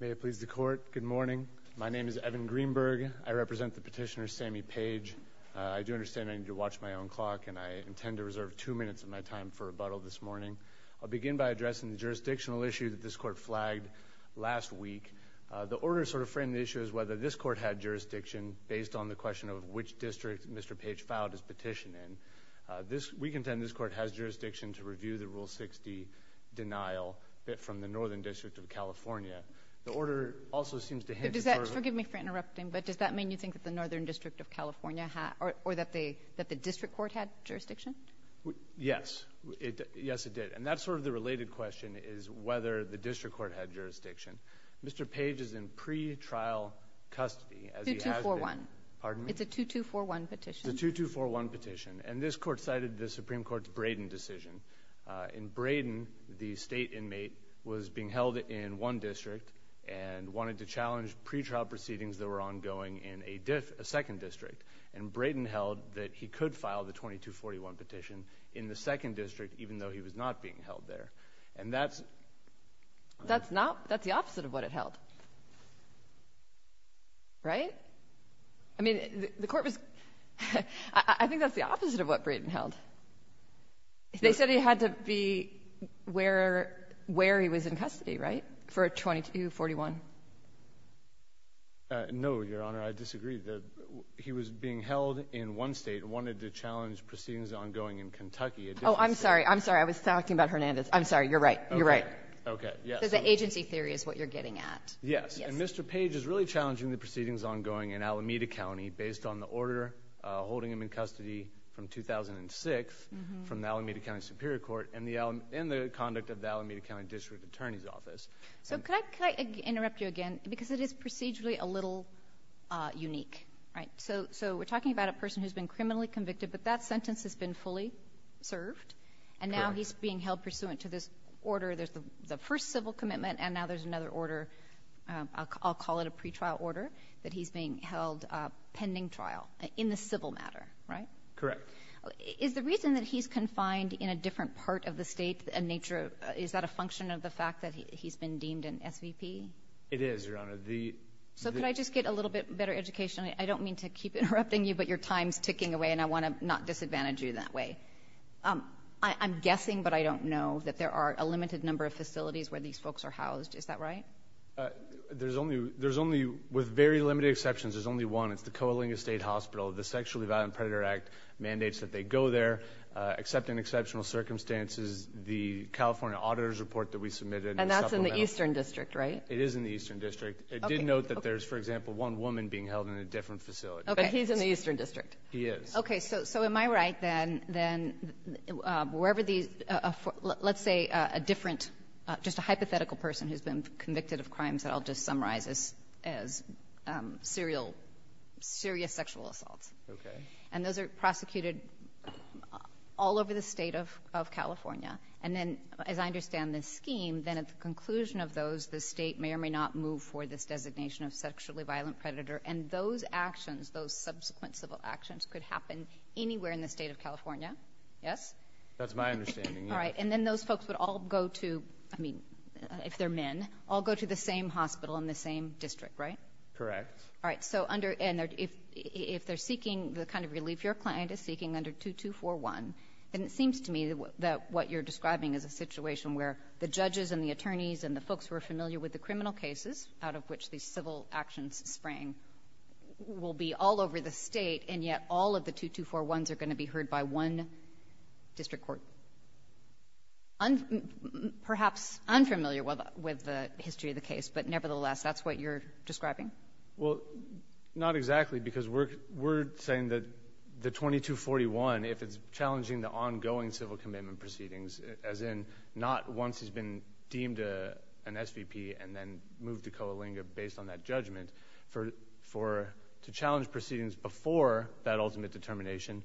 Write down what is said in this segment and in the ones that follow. May it please the court, good morning. My name is Evan Greenberg. I represent the petitioner Sammy Page. I do understand I need to watch my own clock and I intend to reserve two minutes of my time for rebuttal this morning. I'll begin by addressing the jurisdictional issue that this court flagged last week. The order sort of framed the issue as whether this court had jurisdiction based on the question of which district Mr. Page filed his petition in. We contend this court has jurisdiction to review the Rule 60 denial from the Northern District of California. The order also seems to hint at... But does that, forgive me for interrupting, but does that mean you think that the Northern District of California had, or that the district court had jurisdiction? Yes. Yes it did. And that's sort of the related question is whether the district court had jurisdiction. Mr. Page is in pre-trial custody as he has been. 2241. Pardon me? It's a 2241 petition. It's a 2241 petition. And this court cited the Supreme Court's Brayden decision. In Brayden, the state inmate was being held in one district and wanted to challenge pre-trial proceedings that were ongoing in a second district. And Brayden held that he could file the 2241 petition in the second district even though he was not being held there. And that's... I think that's the opposite of what Brayden held. They said he had to be where he was in custody, right? For a 2241. No, Your Honor. I disagree. He was being held in one state and wanted to challenge proceedings ongoing in Kentucky. Oh, I'm sorry. I'm sorry. I was talking about Hernandez. I'm sorry. You're right. You're right. Okay. Yes. Because the agency theory is what you're getting at. Yes. And Mr. Page is really challenging the proceedings ongoing in Alameda County based on the order holding him in custody from 2006 from the Alameda County Superior Court and the conduct of the Alameda County District Attorney's Office. So could I interrupt you again? Because it is procedurally a little unique, right? So we're talking about a person who's been criminally convicted, but that sentence has been fully served and now he's being held pursuant to this order. There's the first civil commitment and now there's another order. I'll call it a pre-trial order that he's being held pending trial in the civil matter, right? Correct. Is the reason that he's confined in a different part of the state a nature of, is that a function of the fact that he's been deemed an SVP? It is, Your Honor. The... So could I just get a little bit better education? I don't mean to keep interrupting you, but your time's ticking away and I want to not disadvantage you that way. I'm guessing, but I don't know that there are a limited number of facilities where these folks are housed. Is that right? There's only, there's only with very limited exceptions, there's only one. It's the Coalinga State Hospital. The Sexually Violent Predator Act mandates that they go there, except in exceptional circumstances, the California Auditor's Report that we submitted. And that's in the Eastern District, right? It is in the Eastern District. It did note that there's, for example, one woman being held in a different facility. Okay. But he's in the Eastern District? He is. Okay. So, so am I right then, then wherever these, let's say a different, just a hypothetical person who's been convicted of crimes that I'll just summarize as, as serial, serious sexual assaults. Okay. And those are prosecuted all over the state of, of California. And then, as I understand this scheme, then at the conclusion of those, the state may or may not move for this designation of sexually violent predator. And those actions, those subsequent civil actions could happen anywhere in the state of California. Yes? That's my understanding. All right. And then those folks would all go to, I mean, if they're men, all go to the same hospital in the same district, right? Correct. All right. So under, and if, if they're seeking the kind of relief your client is seeking under 2241, and it seems to me that what you're describing is a situation where the judges and the attorneys and the folks who are familiar with the criminal cases, out of which these civil actions sprang, will be all over the state, and yet all of the 2241s are going to be heard by one district court. Un, perhaps unfamiliar with, with the history of the case, but nevertheless, that's what you're describing? Well, not exactly, because we're, we're saying that the 2241, if it's challenging the ongoing civil commitment proceedings, as in, not once it's been deemed a, an SVP and then moved to Coalinga based on that judgment, for, for, to challenge proceedings before that ultimate determination,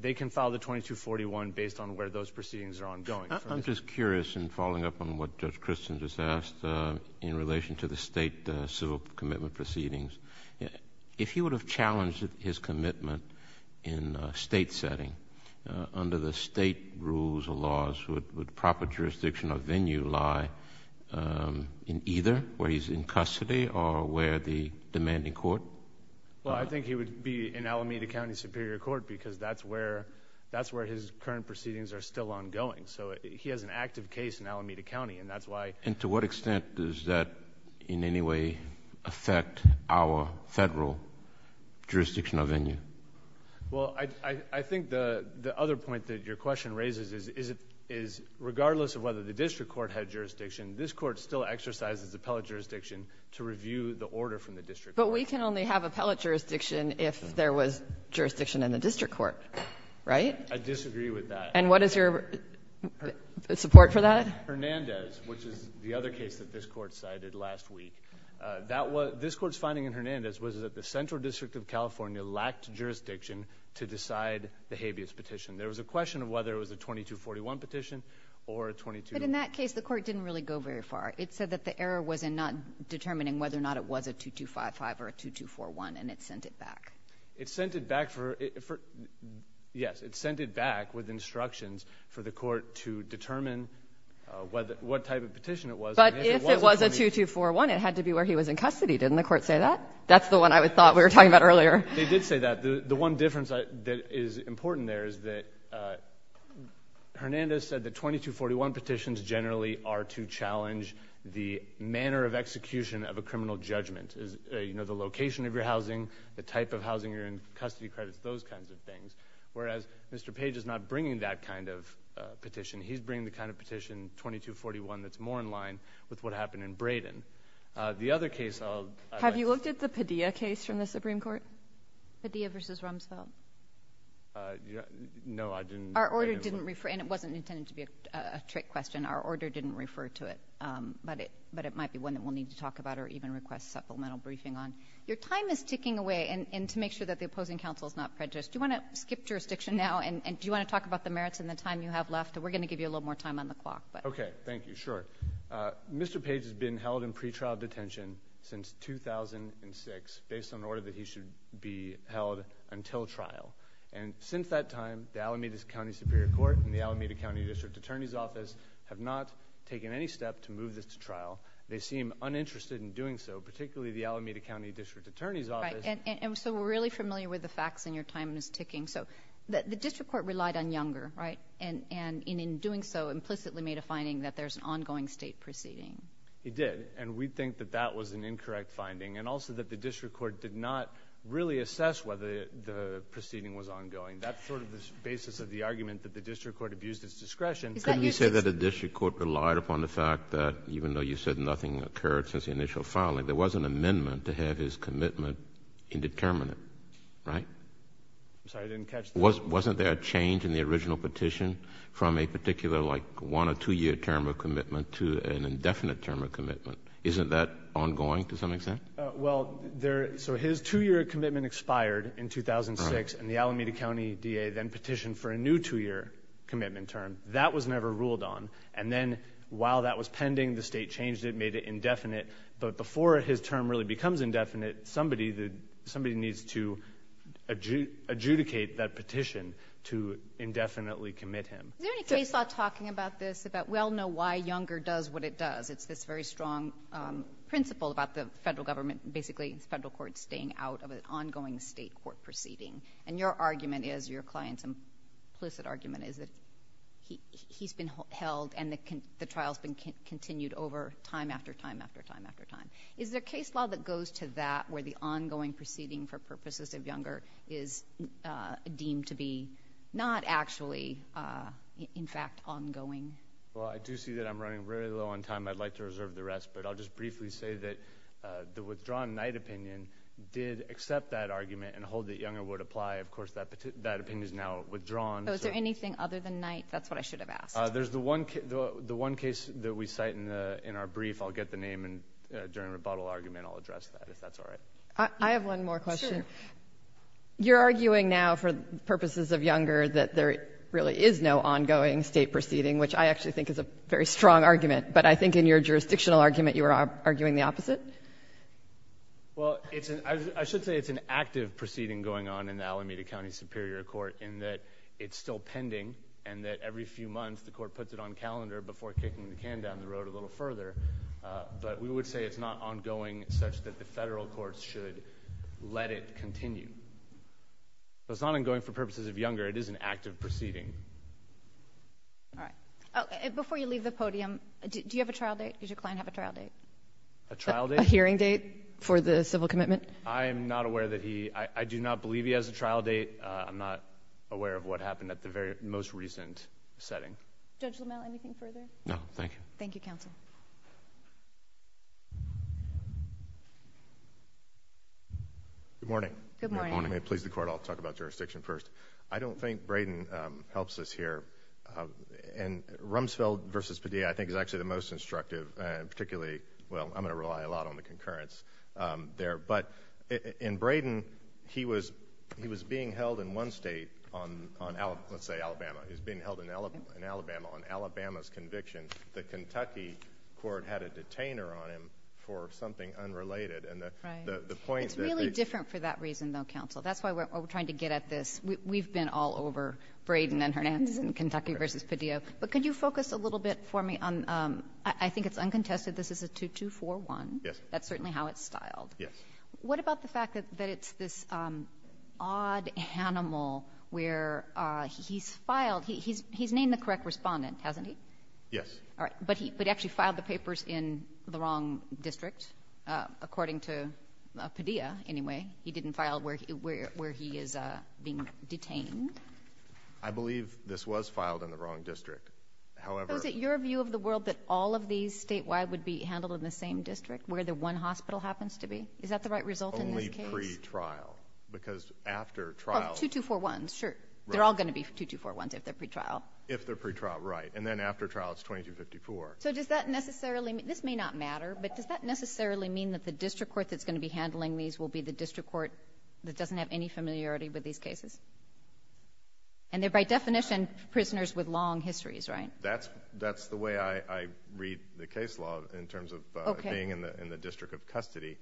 they can file the 2241 based on where those proceedings are ongoing. I'm just curious, and following up on what Judge Christens has asked, in relation to the state civil commitment proceedings, if he would have challenged his commitment in a state setting, under the state rules or laws, would, would proper jurisdiction or venue lie in either, where he's in custody or where the demanding court? Well, I think he would be in Alameda County Superior Court, because that's where, that's where his current proceedings are still ongoing. So, he has an active case in Alameda County, and that's why... And to what extent does that, in any way, affect our federal jurisdiction or venue? Well, I, I, I think the, the other point that your question raises is, is it, is, regardless of whether the district court had jurisdiction, this court still exercises appellate jurisdiction to review the order from the district court. But we can only have appellate jurisdiction if there was jurisdiction in the district court, right? I disagree with that. And what is your support for that? Hernandez, which is the other case that this court cited last week, that was, this court's finding in Hernandez was that the Central District of California lacked jurisdiction to decide the habeas petition. There was a question of whether it was a 2241 petition or a 22... But in that case, the court didn't really go very far. It said that the error was in not determining whether or not it was a 2255 or a 2241, and it sent it back. It sent it back for, for... Yes, it sent it back with instructions for the court to determine whether, what type of petition it was. But if it was a 2241, it had to be where he was in custody. Didn't the court say that? That's the one I thought we were talking about earlier. They did say that. The, the one difference that is important there is that Hernandez said that 2241 petitions generally are to challenge the manner of execution of a criminal judgment. You know, the location of your housing, the type of housing you're in, custody credits, those kinds of things. Whereas, Mr. Page is not bringing that kind of petition. He's bringing the kind of petition, 2241, that's more in line with what happened in Braden. The other case of... Have you looked at the Padilla case from the Supreme Court? Padilla v. Rumsfeld. No, I didn't. Our order didn't refer... and it wasn't intended to be a trick question. Our order didn't refer to it. But it, but it might be one that we'll need to talk about or even request supplemental briefing on. Your time is ticking away, and, and to make sure that the opposing counsel is not prejudiced, do you want to skip jurisdiction now and, and do you want to talk about the merits and the time you have left? We're going to give you a little more time on the clock, but... Okay, thank you. Sure. Mr. Page has been held in pretrial detention since 2006 based on an order that he should be held until trial. And since that time, the Alameda County Superior Court and the Alameda County District Attorney's Office have not taken any step to move this to trial. They seem uninterested in doing so, particularly the Alameda County District Attorney's Office... Right. And, and, and so we're really familiar with the facts and your time is ticking. So, the District Court relied on Younger, right? And, and in, in doing so, implicitly made a finding that there's an ongoing state proceeding. It did. And we think that that was an incorrect finding. And also that the District Court did not really assess whether the, the proceeding was ongoing. That's sort of the basis of the argument that the District Court abused its discretion. Is that your... Couldn't you say that the District Court relied upon the fact that even though you said nothing occurred since the initial filing, there was an amendment to have his commitment indeterminate, right? I'm sorry, I didn't catch the... Wasn't, wasn't there a change in the original petition from a particular, like, one or two year term of commitment to an indefinite term of commitment? Isn't that ongoing, to some extent? Well, there... So, his two year commitment expired in 2006 and the Alameda County DA then petitioned for a new two year commitment term. That was never ruled on. And then, while that was pending, the state changed it, made it indefinite. But before his term really becomes indefinite, somebody, somebody needs to adjudicate that petition to indefinitely commit him. Is there any case law talking about this, about, we all know why Younger does what it does. It's this very strong principle about the federal government, basically the federal court, staying out of an ongoing state court proceeding. And your argument is, your client's implicit argument is that he's been held and the trial's been continued over time after time after time after time. Is there case law that goes to that, where the ongoing proceeding for purposes of Younger is deemed to be not actually, in fact, ongoing? Well, I do see that I'm running very low on time. I'd like to reserve the rest. But I'll just briefly say that the withdrawn Knight opinion did accept that argument and hold that Younger would apply. Of course, that opinion is now withdrawn. So, is there anything other than Knight? That's what I should have asked. There's the one case that we cite in our brief. I'll get the name and during a rebuttal argument I'll address that, if that's all right. I have one more question. Sure. You're arguing now, for purposes of Younger, that there really is no ongoing state proceeding, which I actually think is a very strong argument. But I think in your jurisdictional argument you were arguing the opposite? Well, I should say it's an active proceeding going on in the Alameda County Superior Court in that it's still pending and that every few months the court puts it on calendar before kicking the can down the road a little further. But we would say it's not ongoing such that the federal courts should let it continue. So, it's not ongoing for purposes of Younger. It is an active proceeding. All right. Before you leave the podium, do you have a trial date? Does your client have a trial date? A trial date? A hearing date for the civil commitment? I am not aware that he, I do not believe he has a trial date. I'm not aware of what happened at the very most recent setting. Judge Lamel, anything further? No, thank you. Thank you, counsel. Good morning. Good morning. If you may please the court, I'll talk about jurisdiction first. I don't think Brayden helps us here. And Rumsfeld v. Padilla, I think, is actually the most instructive, particularly, well, I'm going to rely a lot on the concurrence there. But in Brayden, he was being held in one state on, let's say, Alabama. He was being held in Alabama on Alabama's conviction. The Kentucky court had a detainer on him for something unrelated. Right. And the point that they It's really different for that reason, though, counsel. That's why we're trying to get at this. We've been all over Brayden and Hernandez and Kentucky v. Padilla. But could you focus a little bit for me on, I think it's uncontested, this is a 2-2-4-1. Yes. That's certainly how it's styled. Yes. What about the fact that it's this odd animal where he's filed, he's named the correct respondent, hasn't he? Yes. All right. But he actually filed the papers in the wrong district, according to Padilla, anyway. He didn't file where he is being detained. I believe this was filed in the wrong district. However Is it your view of the world that all of these statewide would be handled in the same district where the one hospital happens to be? Is that the right result in this case? Only pre-trial. Because after trial Oh, 2-2-4-1s, sure. They're all going to be 2-2-4-1s if they're pre-trial. If they're pre-trial, right. And then after trial, it's 2254. So does that necessarily, this may not matter, but does that necessarily mean that the district court that's going to be handling these will be the district court that doesn't have any familiarity with these cases? And they're by definition prisoners with long histories, right? That's the way I read the case law in terms of being in the district of custody.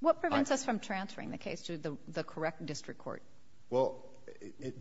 What prevents us from transferring the case to the correct district court? Well,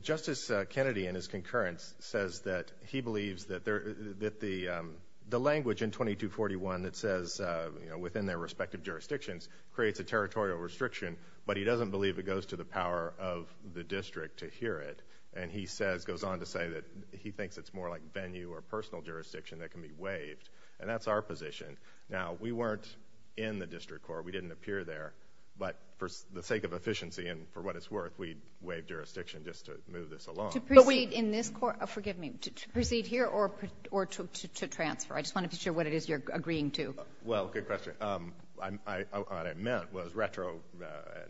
Justice Kennedy in his concurrence says that he believes that the language in 2241 that says, you know, within their respective jurisdictions creates a territorial restriction, but he doesn't believe it goes to the power of the district to hear it. And he says, goes on to say that he thinks it's more like venue or personal jurisdiction that can be waived. And that's our position. Now, we weren't in the district court. We didn't appear there. But for the sake of efficiency and for what it's worth, we waived jurisdiction just to move this along. To proceed in this court, forgive me, to proceed here or to transfer? I just want to be sure what it is you're agreeing to. Well, good question. What I meant was retro,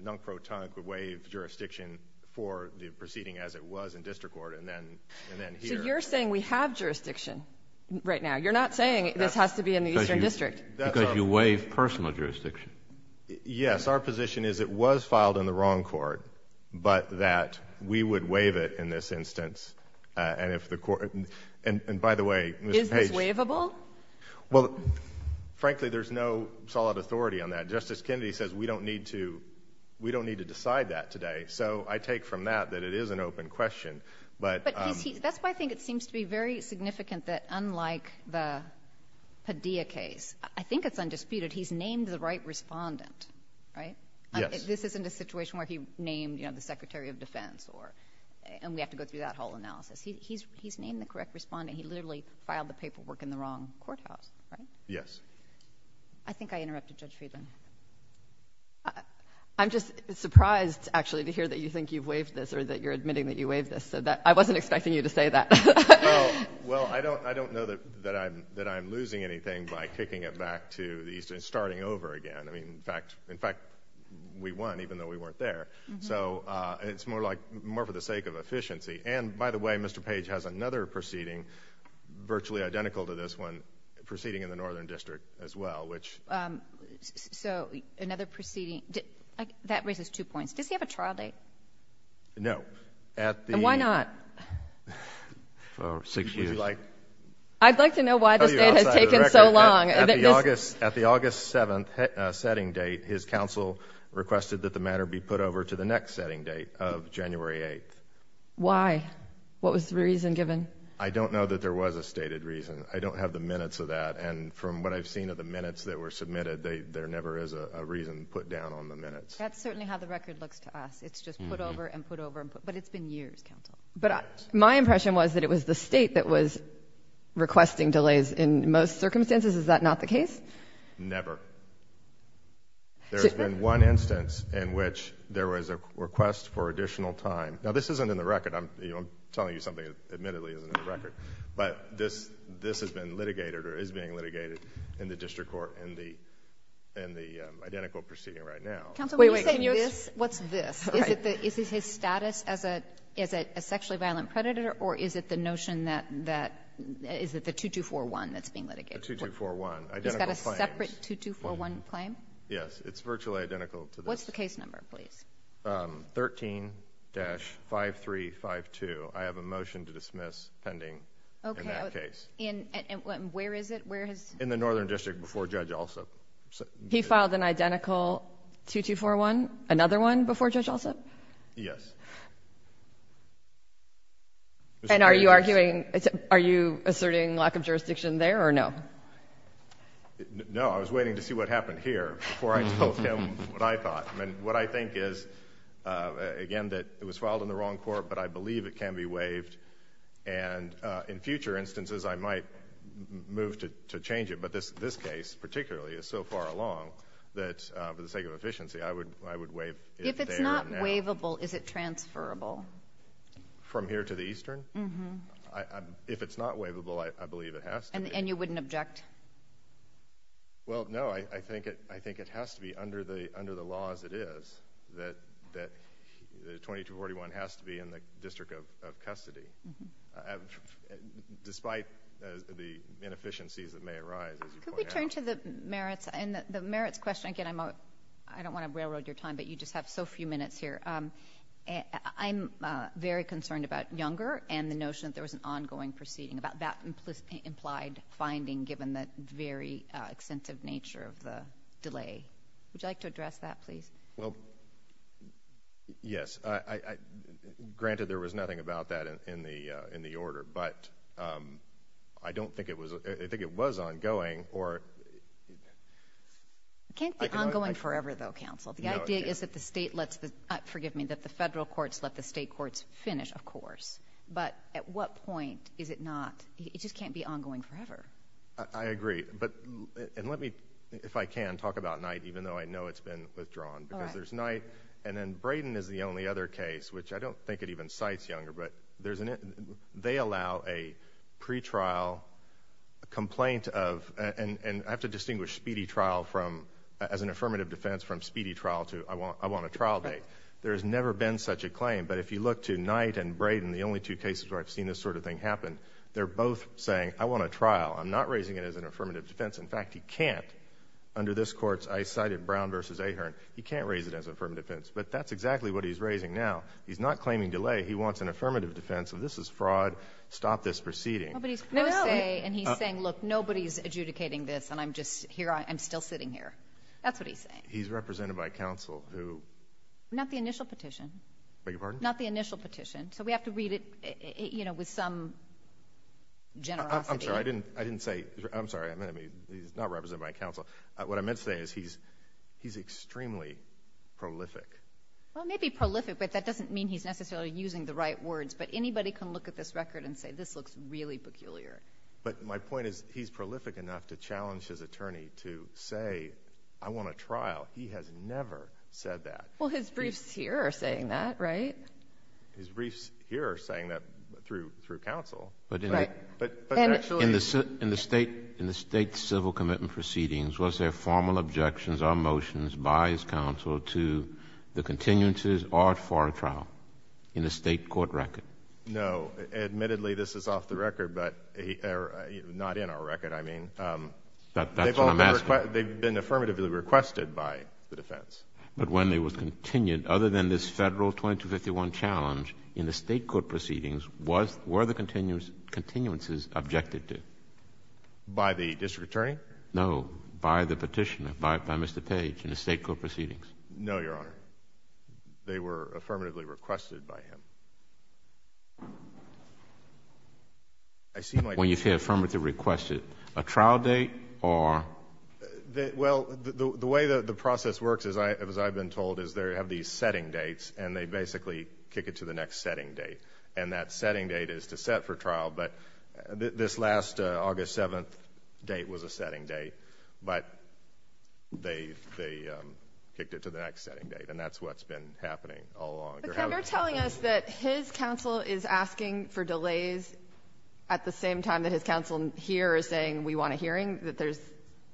non-protonically waived jurisdiction for the proceeding as it was in district court and then here. So you're saying we have jurisdiction right now? You're not saying this has to be in the Eastern District? Because you waive personal jurisdiction. Yes, our position is it was filed in the wrong court, but that we would waive it in this instance. And if the court, and by the way, Mr. Page— Well, frankly, there's no solid authority on that. Justice Kennedy says we don't need to decide that today. So I take from that that it is an open question. But that's why I think it seems to be very significant that unlike the Padilla case, I think it's undisputed he's named the right respondent, right? Yes. This isn't a situation where he named the Secretary of Defense, and we have to go through that whole analysis. He's named the correct respondent. He literally filed the paperwork in the wrong courthouse, right? Yes. I think I interrupted Judge Friedman. I'm just surprised, actually, to hear that you think you've waived this or that you're admitting that you waived this. I wasn't expecting you to say that. Well, I don't know that I'm losing anything by kicking it back to the Eastern, starting over again. I mean, in fact, we won even though we weren't there. So it's more for the sake of efficiency. And by the way, Mr. Page has another proceeding virtually identical to this one proceeding in the Northern District as well, which... So another proceeding... that raises two points. Does he have a trial date? No. And why not? For six years. I'd like to know why this date has taken so long. At the August 7th setting date, his counsel requested that the matter be put over to the next setting date of January 8th. Why? What was the reason given? I don't know that there was a stated reason. I don't have the minutes of that. And from what I've seen of the minutes that were submitted, there never is a reason put down on the minutes. That's certainly how the record looks to us. It's just put over and put over and put... But it's been years, counsel. But my impression was that it was the state that was requesting delays in most circumstances. Is that not the case? Never. There's been one instance in which there was a request for additional time. Now, this isn't in the record. I'm telling you something that admittedly isn't in the record. But this has been litigated or is being litigated in the district court in the identical proceeding right now. Counsel, when you say this, what's this? Is it his status as a sexually violent predator or is it the notion that... is it the 2241 that's being litigated? The 2241. Identical claims. He's got a separate 2241 claim? Yes. It's virtually identical to this. What's the case number, please? 13-5352. I have a motion to dismiss pending in that case. Okay. And where is it? Where is... In the northern district before Judge Alsup. He filed an identical 2241, another one before Judge Alsup? Yes. And are you arguing... are you asserting lack of jurisdiction there or no? No. I was waiting to see what happened here before I told him what I thought. I mean, what I think is, again, that it was filed in the wrong court, but I believe it can be waived. And in future instances, I might move to change it. But this case particularly is so far along that for the sake of efficiency, I would waive it there and now. If it's not waivable, is it transferable? From here to the eastern? Mm-hmm. If it's not waivable, I believe it has to be. And you wouldn't object? Well, no. I think it has to be under the law as it is, that the 2241 has to be in the District of Custody, despite the inefficiencies that may arise, as you point out. Could we turn to the merits? And the merits question, again, I don't want to railroad your time, but you just have so few minutes here. I'm very concerned about Younger and the notion that there was an ongoing proceeding, about that implied finding, given the very extensive nature of the delay. Would you like to address that, please? Well, yes. Granted, there was nothing about that in the order, but I don't think it was – I think it was ongoing, or – It can't be ongoing forever, though, counsel. The idea is that the state lets the – forgive me. At what point is it not – it just can't be ongoing forever. I agree. But – and let me, if I can, talk about Knight, even though I know it's been withdrawn. All right. Because there's Knight, and then Brayden is the only other case, which I don't think it even cites Younger, but there's an – they allow a pretrial complaint of – and I have to distinguish speedy trial from – as an affirmative defense, from speedy trial to I want a trial date. There has never been such a claim. But if you look to Knight and Younger, I've seen this sort of thing happen. They're both saying, I want a trial. I'm not raising it as an affirmative defense. In fact, he can't. Under this Court's – I cited Brown v. Ahearn. He can't raise it as an affirmative defense. But that's exactly what he's raising now. He's not claiming delay. He wants an affirmative defense of this is fraud. Stop this proceeding. Nobody's – No, no. And he's saying, look, nobody's adjudicating this, and I'm just – here – I'm still sitting here. That's what he's saying. He's represented by counsel, who – Not the initial petition. Beg your pardon? Not the initial petition. So we have to read it, you know, with some generosity. I'm sorry. I didn't say – I'm sorry. He's not represented by counsel. What I meant to say is he's extremely prolific. Well, it may be prolific, but that doesn't mean he's necessarily using the right words. But anybody can look at this record and say, this looks really peculiar. But my point is, he's prolific enough to challenge his attorney to say, I want a trial. He has never said that. Well, his briefs here are saying that, right? His briefs here are saying that through counsel. But in the – Right. But actually – In the state – in the state civil commitment proceedings, was there formal objections or motions by his counsel to the continuances or for a trial in the state court record? No. Admittedly, this is off the record, but – or not in our record, I mean. That's what I'm asking. They've been affirmatively requested by the defense. But when they were continued, other than this federal 2251 challenge, in the state court proceedings, was – were the continuances objected to? By the district attorney? No. By the petitioner, by Mr. Page, in the state court proceedings. No, Your Honor. They were affirmatively requested by him. I seem like – When you say affirmatively requested, a trial date or – Well, the way the process works, as I've been told, is they have these setting dates, and they basically kick it to the next setting date. And that setting date is to set for trial, but this last August 7th date was a setting date. But they kicked it to the next setting date, and that's what's been happening all along. But they're telling us that his counsel is asking for delays at the same time that his counsel here is saying we want a hearing, that there's –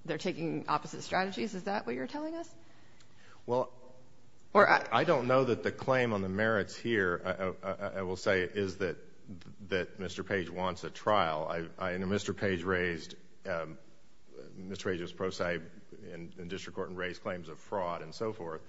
they're taking opposite strategies. Is that what you're telling us? Well – Or – I don't know that the claim on the merits here, I will say, is that – that Mr. Page wants a trial. I – and Mr. Page raised – Mr. Page was pro se in district court and raised claims of fraud and so forth,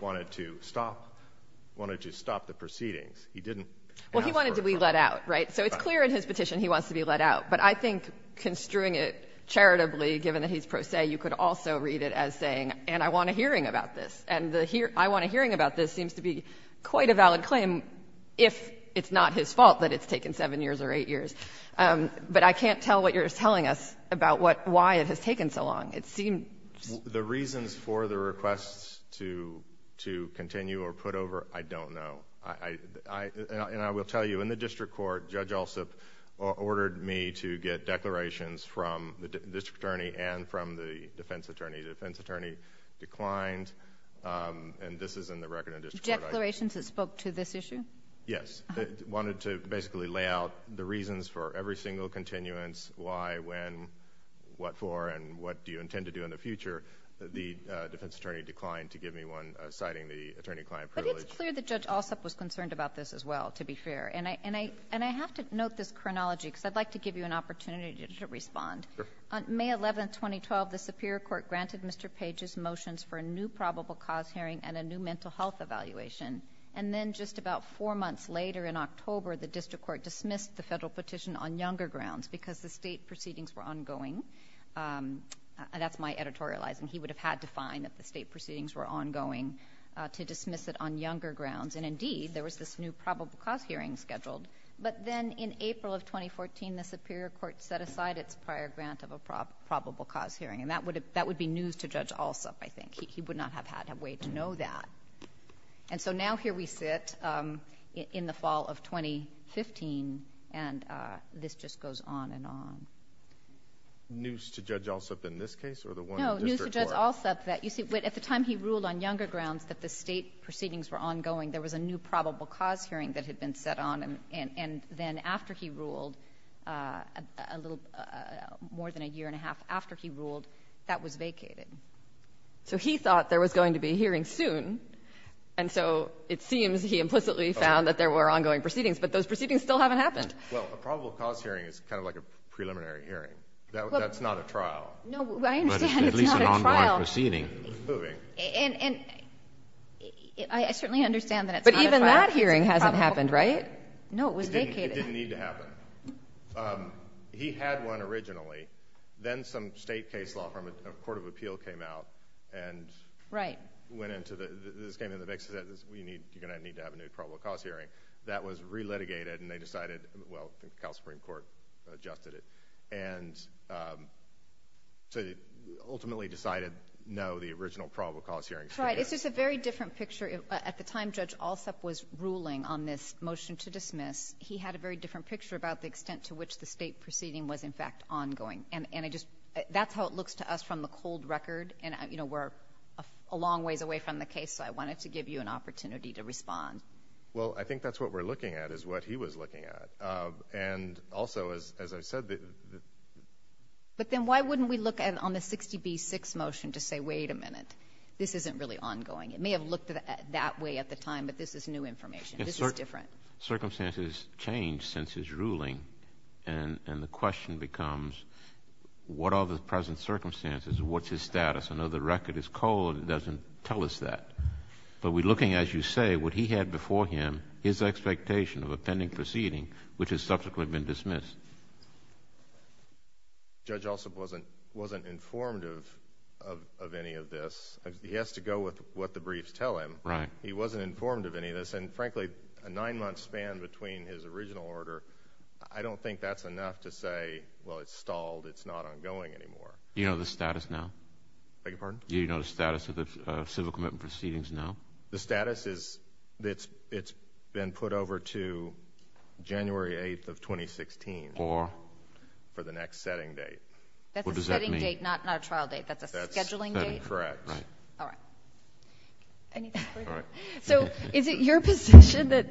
wanted to stop – wanted to stop the proceedings. He didn't – Well, he wanted to be let out, right? So it's clear in his petition he wants to be let out. But I think construing it charitably, given that he's pro se, you could also read it as saying, and I want a hearing about this. And the I want a hearing about this seems to be quite a valid claim if it's not his fault that it's taken seven years or eight years. But I can't tell what you're telling us about what – why it has taken so long. It seems – The reasons for the requests to continue or put over, I don't know. I – and I will tell you, in the district court, Judge Alsup ordered me to get declarations from the district attorney and from the defense attorney. The defense attorney declined, and this is in the record of the district court. Declarations that spoke to this issue? Yes. It wanted to basically lay out the reasons for every single continuance, why, when, what for, and what do you intend to do in the future. The defense attorney declined to give me one citing the attorney-client privilege. It's clear that Judge Alsup was concerned about this as well, to be fair. And I have to note this chronology, because I'd like to give you an opportunity to respond. On May 11, 2012, the Superior Court granted Mr. Page's motions for a new probable cause hearing and a new mental health evaluation. And then just about four months later, in October, the district court dismissed the federal petition on younger grounds, because the state proceedings were ongoing. That's my editorializing. He would have had to find that the state proceedings were ongoing to dismiss it on younger grounds. And indeed, there was this new probable cause hearing scheduled. But then in April of 2014, the Superior Court set aside its prior grant of a probable cause hearing. And that would be news to Judge Alsup, I think. He would not have had a way to know that. And so now here we sit in the fall of 2015, and this just goes on and on. But Judge Alsup, you see, at the time he ruled on younger grounds that the state proceedings were ongoing, there was a new probable cause hearing that had been set on. And then after he ruled, a little more than a year and a half after he ruled, that was vacated. So he thought there was going to be a hearing soon. And so it seems he implicitly found that there were ongoing proceedings, but those proceedings still haven't happened. Well, a probable cause hearing is kind of like a preliminary hearing. That's not a trial. No, I understand it's not a trial. But it's at least an ongoing proceeding. It's moving. And I certainly understand that it's not a trial. But even that hearing hasn't happened, right? No, it was vacated. It didn't need to happen. He had one originally. Then some state case law from a court of appeal came out and went into the, this came into the mix and said, you're going to need to have a new probable cause hearing. That was re-litigated, and they decided, well, the Cal Supreme Court adjusted it. And so they ultimately decided, no, the original probable cause hearing should go. Right. It's just a very different picture. At the time Judge Alsup was ruling on this motion to dismiss, he had a very different picture about the extent to which the state proceeding was, in fact, ongoing. And I just, that's how it looks to us from the cold record. And, you know, we're a long ways away from the case, so I wanted to give you an opportunity to respond. Well, I think that's what we're looking at, is what he was looking at. And also, as I said, the... But then why wouldn't we look at, on the 60B6 motion, to say, wait a minute, this isn't really ongoing? It may have looked that way at the time, but this is new information. This is different. Circumstances change since his ruling, and the question becomes, what are the present circumstances? What's his status? I know the record is cold. It doesn't tell us that. But we're looking, as you say, what he had before him, his expectation of a pending proceeding, which has subsequently been dismissed. Judge also wasn't informed of any of this. He has to go with what the briefs tell him. Right. He wasn't informed of any of this. And frankly, a nine-month span between his original order, I don't think that's enough to say, well, it's stalled, it's not ongoing anymore. You know the status now? Beg your pardon? Do you know the status of the civil commitment proceedings now? The status is that it's been put over to January 8th of 2016. For? For the next setting date. What does that mean? That's a setting date, not a trial date. That's a scheduling date? That's correct. Right. All right. Anything further? All right. So is it your position that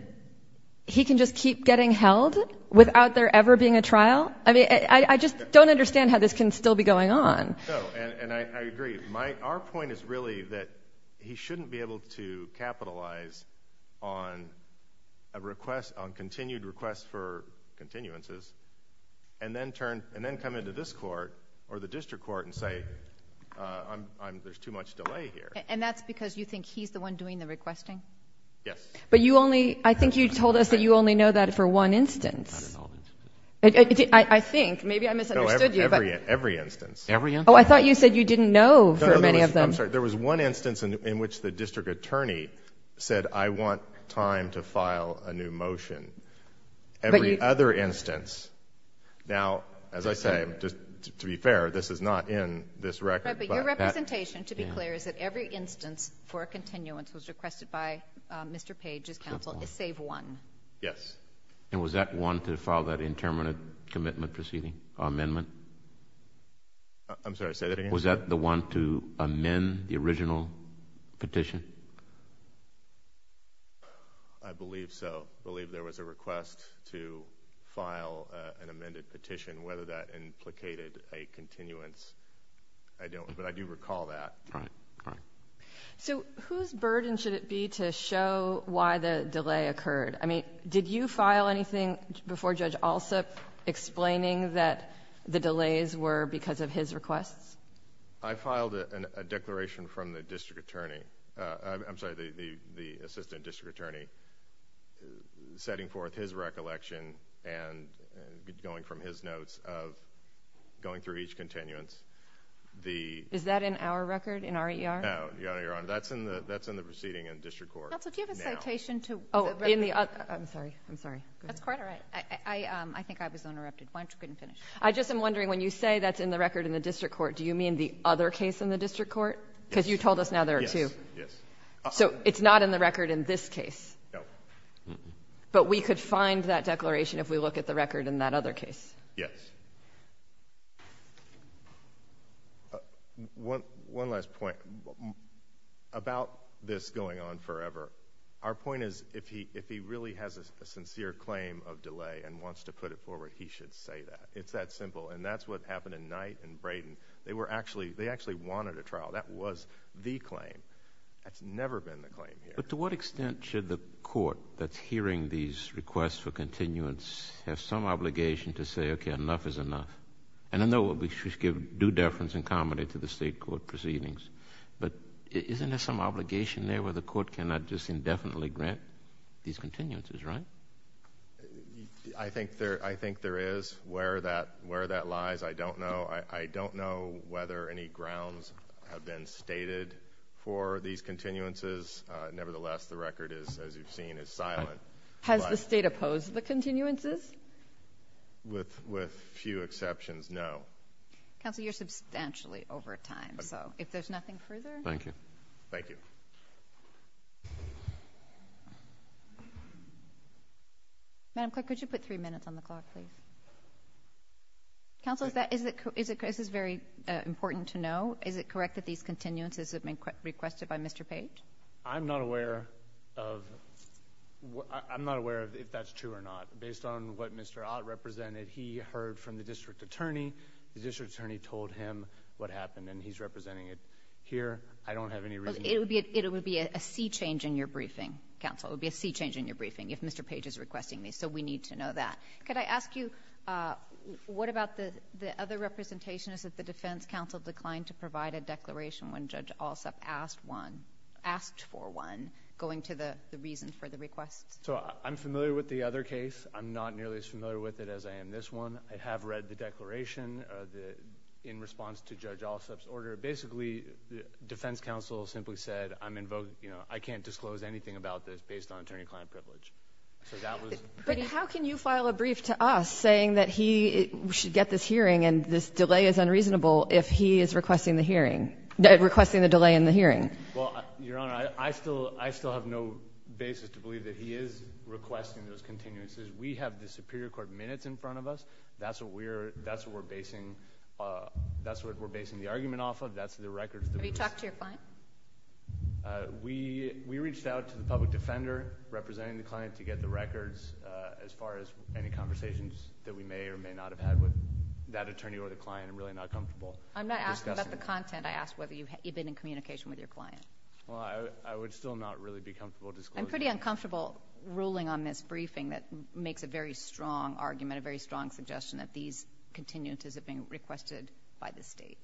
he can just keep getting held without there ever being a trial? I mean, I just don't understand how this can still be going on. No, and I agree. Our point is really that he shouldn't be able to capitalize on continued requests for continuances and then come into this court or the district court and say, there's too much delay here. And that's because you think he's the one doing the requesting? Yes. But you only, I think you told us that you only know that for one instance. I think. Maybe I misunderstood you. No, every instance. Every instance. Oh, I thought you said you didn't know for many of them. I'm sorry. There was one instance in which the district attorney said, I want time to file a new motion. Every other instance. Now, as I say, just to be fair, this is not in this record. But your representation, to be clear, is that every instance for a continuance was requested by Mr. Page's counsel is save one. Yes. And was that one to file that interminate commitment proceeding amendment? I'm sorry, say that again? Was that the one to amend the original petition? I believe so. I believe there was a request to file an amended petition. Whether that implicated a continuance, I don't, but I do recall that. Right. Right. So whose burden should it be to show why the delay occurred? I mean, did you file anything before Judge Alsup explaining that the delays were because of his requests? I filed a declaration from the district attorney. I'm sorry, the assistant district attorney, setting forth his recollection and going from his notes of going through each continuance. Is that in our record, in our ER? No, Your Honor. That's in the proceeding in the district court. Judge Alsup, do you have a citation to the record? Oh, in the, I'm sorry, I'm sorry. That's quite all right. I think I was interrupted. Why don't you go ahead and finish? I just am wondering, when you say that's in the record in the district court, do you mean the other case in the district court? Yes. Because you told us now there are two. Yes. Yes. So it's not in the record in this case? No. But we could find that declaration if we look at the record in that other case? Yes. One last point about this going on forever. Our point is if he really has a sincere claim of delay and wants to put it forward, he should say that. It's that simple. And that's what happened in Knight and Brayden. They were actually, they actually wanted a trial. That was the claim. That's never been the claim here. But to what extent should the court that's hearing these requests for continuance have some obligation to say, okay, enough is enough? And I know we should give due deference and comedy to the state court proceedings, but isn't there some obligation there where the court cannot just indefinitely grant these continuances, right? I think there is. Where that lies, I don't know. I don't know whether any grounds have been stated for these continuances. Nevertheless, the record is, as you've seen, is silent. Has the state opposed the continuances? With few exceptions, no. Counsel, you're substantially over time, so if there's nothing further? Thank you. Thank you. Madam Clerk, could you put three minutes on the clock, please? Counsel, is it, this is very important to know, is it correct that these continuances have been requested by Mr. Page? I'm not aware of, I'm not aware of if that's true or not. Based on what Mr. Ott represented, he heard from the district attorney. The district attorney told him what happened, and he's representing it here. I don't have any reason... It would be a sea change in your briefing, Counsel. It would be a sea change in your briefing if Mr. Page is requesting these, so we need to know that. Could I ask you, what about the other representation is that the defense counsel declined to provide a declaration when Judge Alsop asked one? Going to the reason for the request? So, I'm familiar with the other case. I'm not nearly as familiar with it as I am this one. I have read the declaration in response to Judge Alsop's order. Basically, the defense counsel simply said, I'm in vogue, you know, I can't disclose anything about this based on attorney-client privilege. So that was... But how can you file a brief to us saying that he should get this hearing and this delay is unreasonable if he is requesting the hearing, requesting the delay in the hearing? Well, Your Honor, I still have no basis to believe that he is requesting those continuances. We have the superior court minutes in front of us. That's what we're basing the argument off of. That's the records... Have you talked to your client? We reached out to the public defender representing the client to get the records as far as any conversations that we may or may not have had with that attorney or the client. I'm really not comfortable discussing... I'm not asking about the content. I ask whether you've been in communication with your client. Well, I would still not really be comfortable disclosing... I'm pretty uncomfortable ruling on this briefing that makes a very strong argument, a very strong suggestion that these continuances have been requested by the state.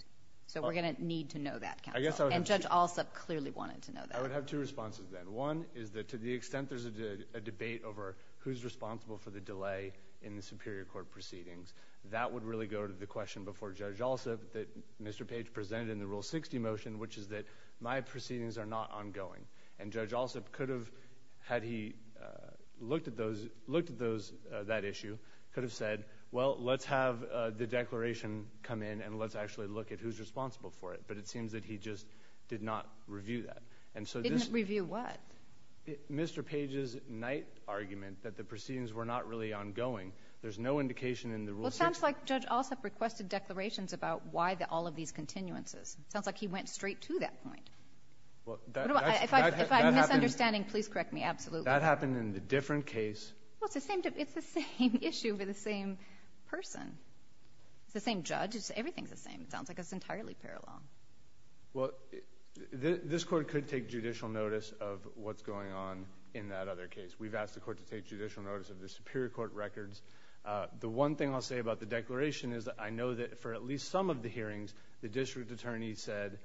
So we're going to need to know that, counsel. I guess I would have... And Judge Alsop clearly wanted to know that. I would have two responses then. One is that to the extent there's a debate over who's responsible for the delay in the superior court proceedings, that would really go to the question before Judge Alsop that Mr. Page presented in the Rule 60 motion, which is that my proceedings are not ongoing. And Judge Alsop could have, had he looked at that issue, could have said, well, let's have the declaration come in and let's actually look at who's responsible for it. But it seems that he just did not review that. Didn't review what? Mr. Page's night argument that the proceedings were not really ongoing. There's no indication in the Rule 60... It sounds like Judge Alsop requested declarations about why all of these continuances. It sounds like he went straight to that point. If I'm misunderstanding, please correct me. Absolutely. That happened in a different case. Well, it's the same issue with the same person. It's the same judge. Everything's the same. It sounds like it's entirely parallel. Well, this Court could take judicial notice of what's going on in that other case. We've asked the Court to take judicial notice of the superior court records. The one thing I'll say about the declaration is that I know that for at least some of the hearings, the district attorney said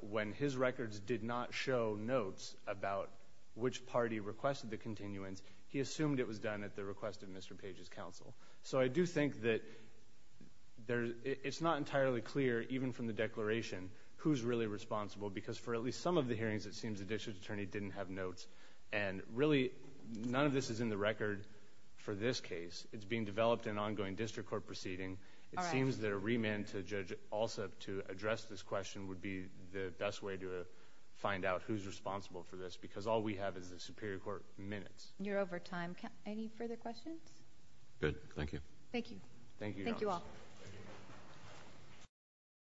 when his records did not show notes about which party requested the continuance, he assumed it was done at the request of Mr. Page's counsel. So I do think that it's not entirely clear, even from the declaration, who's really responsible. Because for at least some of the hearings, it seems the district attorney didn't have notes. And really, none of this is in the record for this case. It's being developed in ongoing district court proceeding. It seems that a remand to judge also to address this question would be the best way to find out who's responsible for this. Because all we have is the superior court minutes. You're over time. Any further questions? Good. Thank you. Thank you. Thank you all.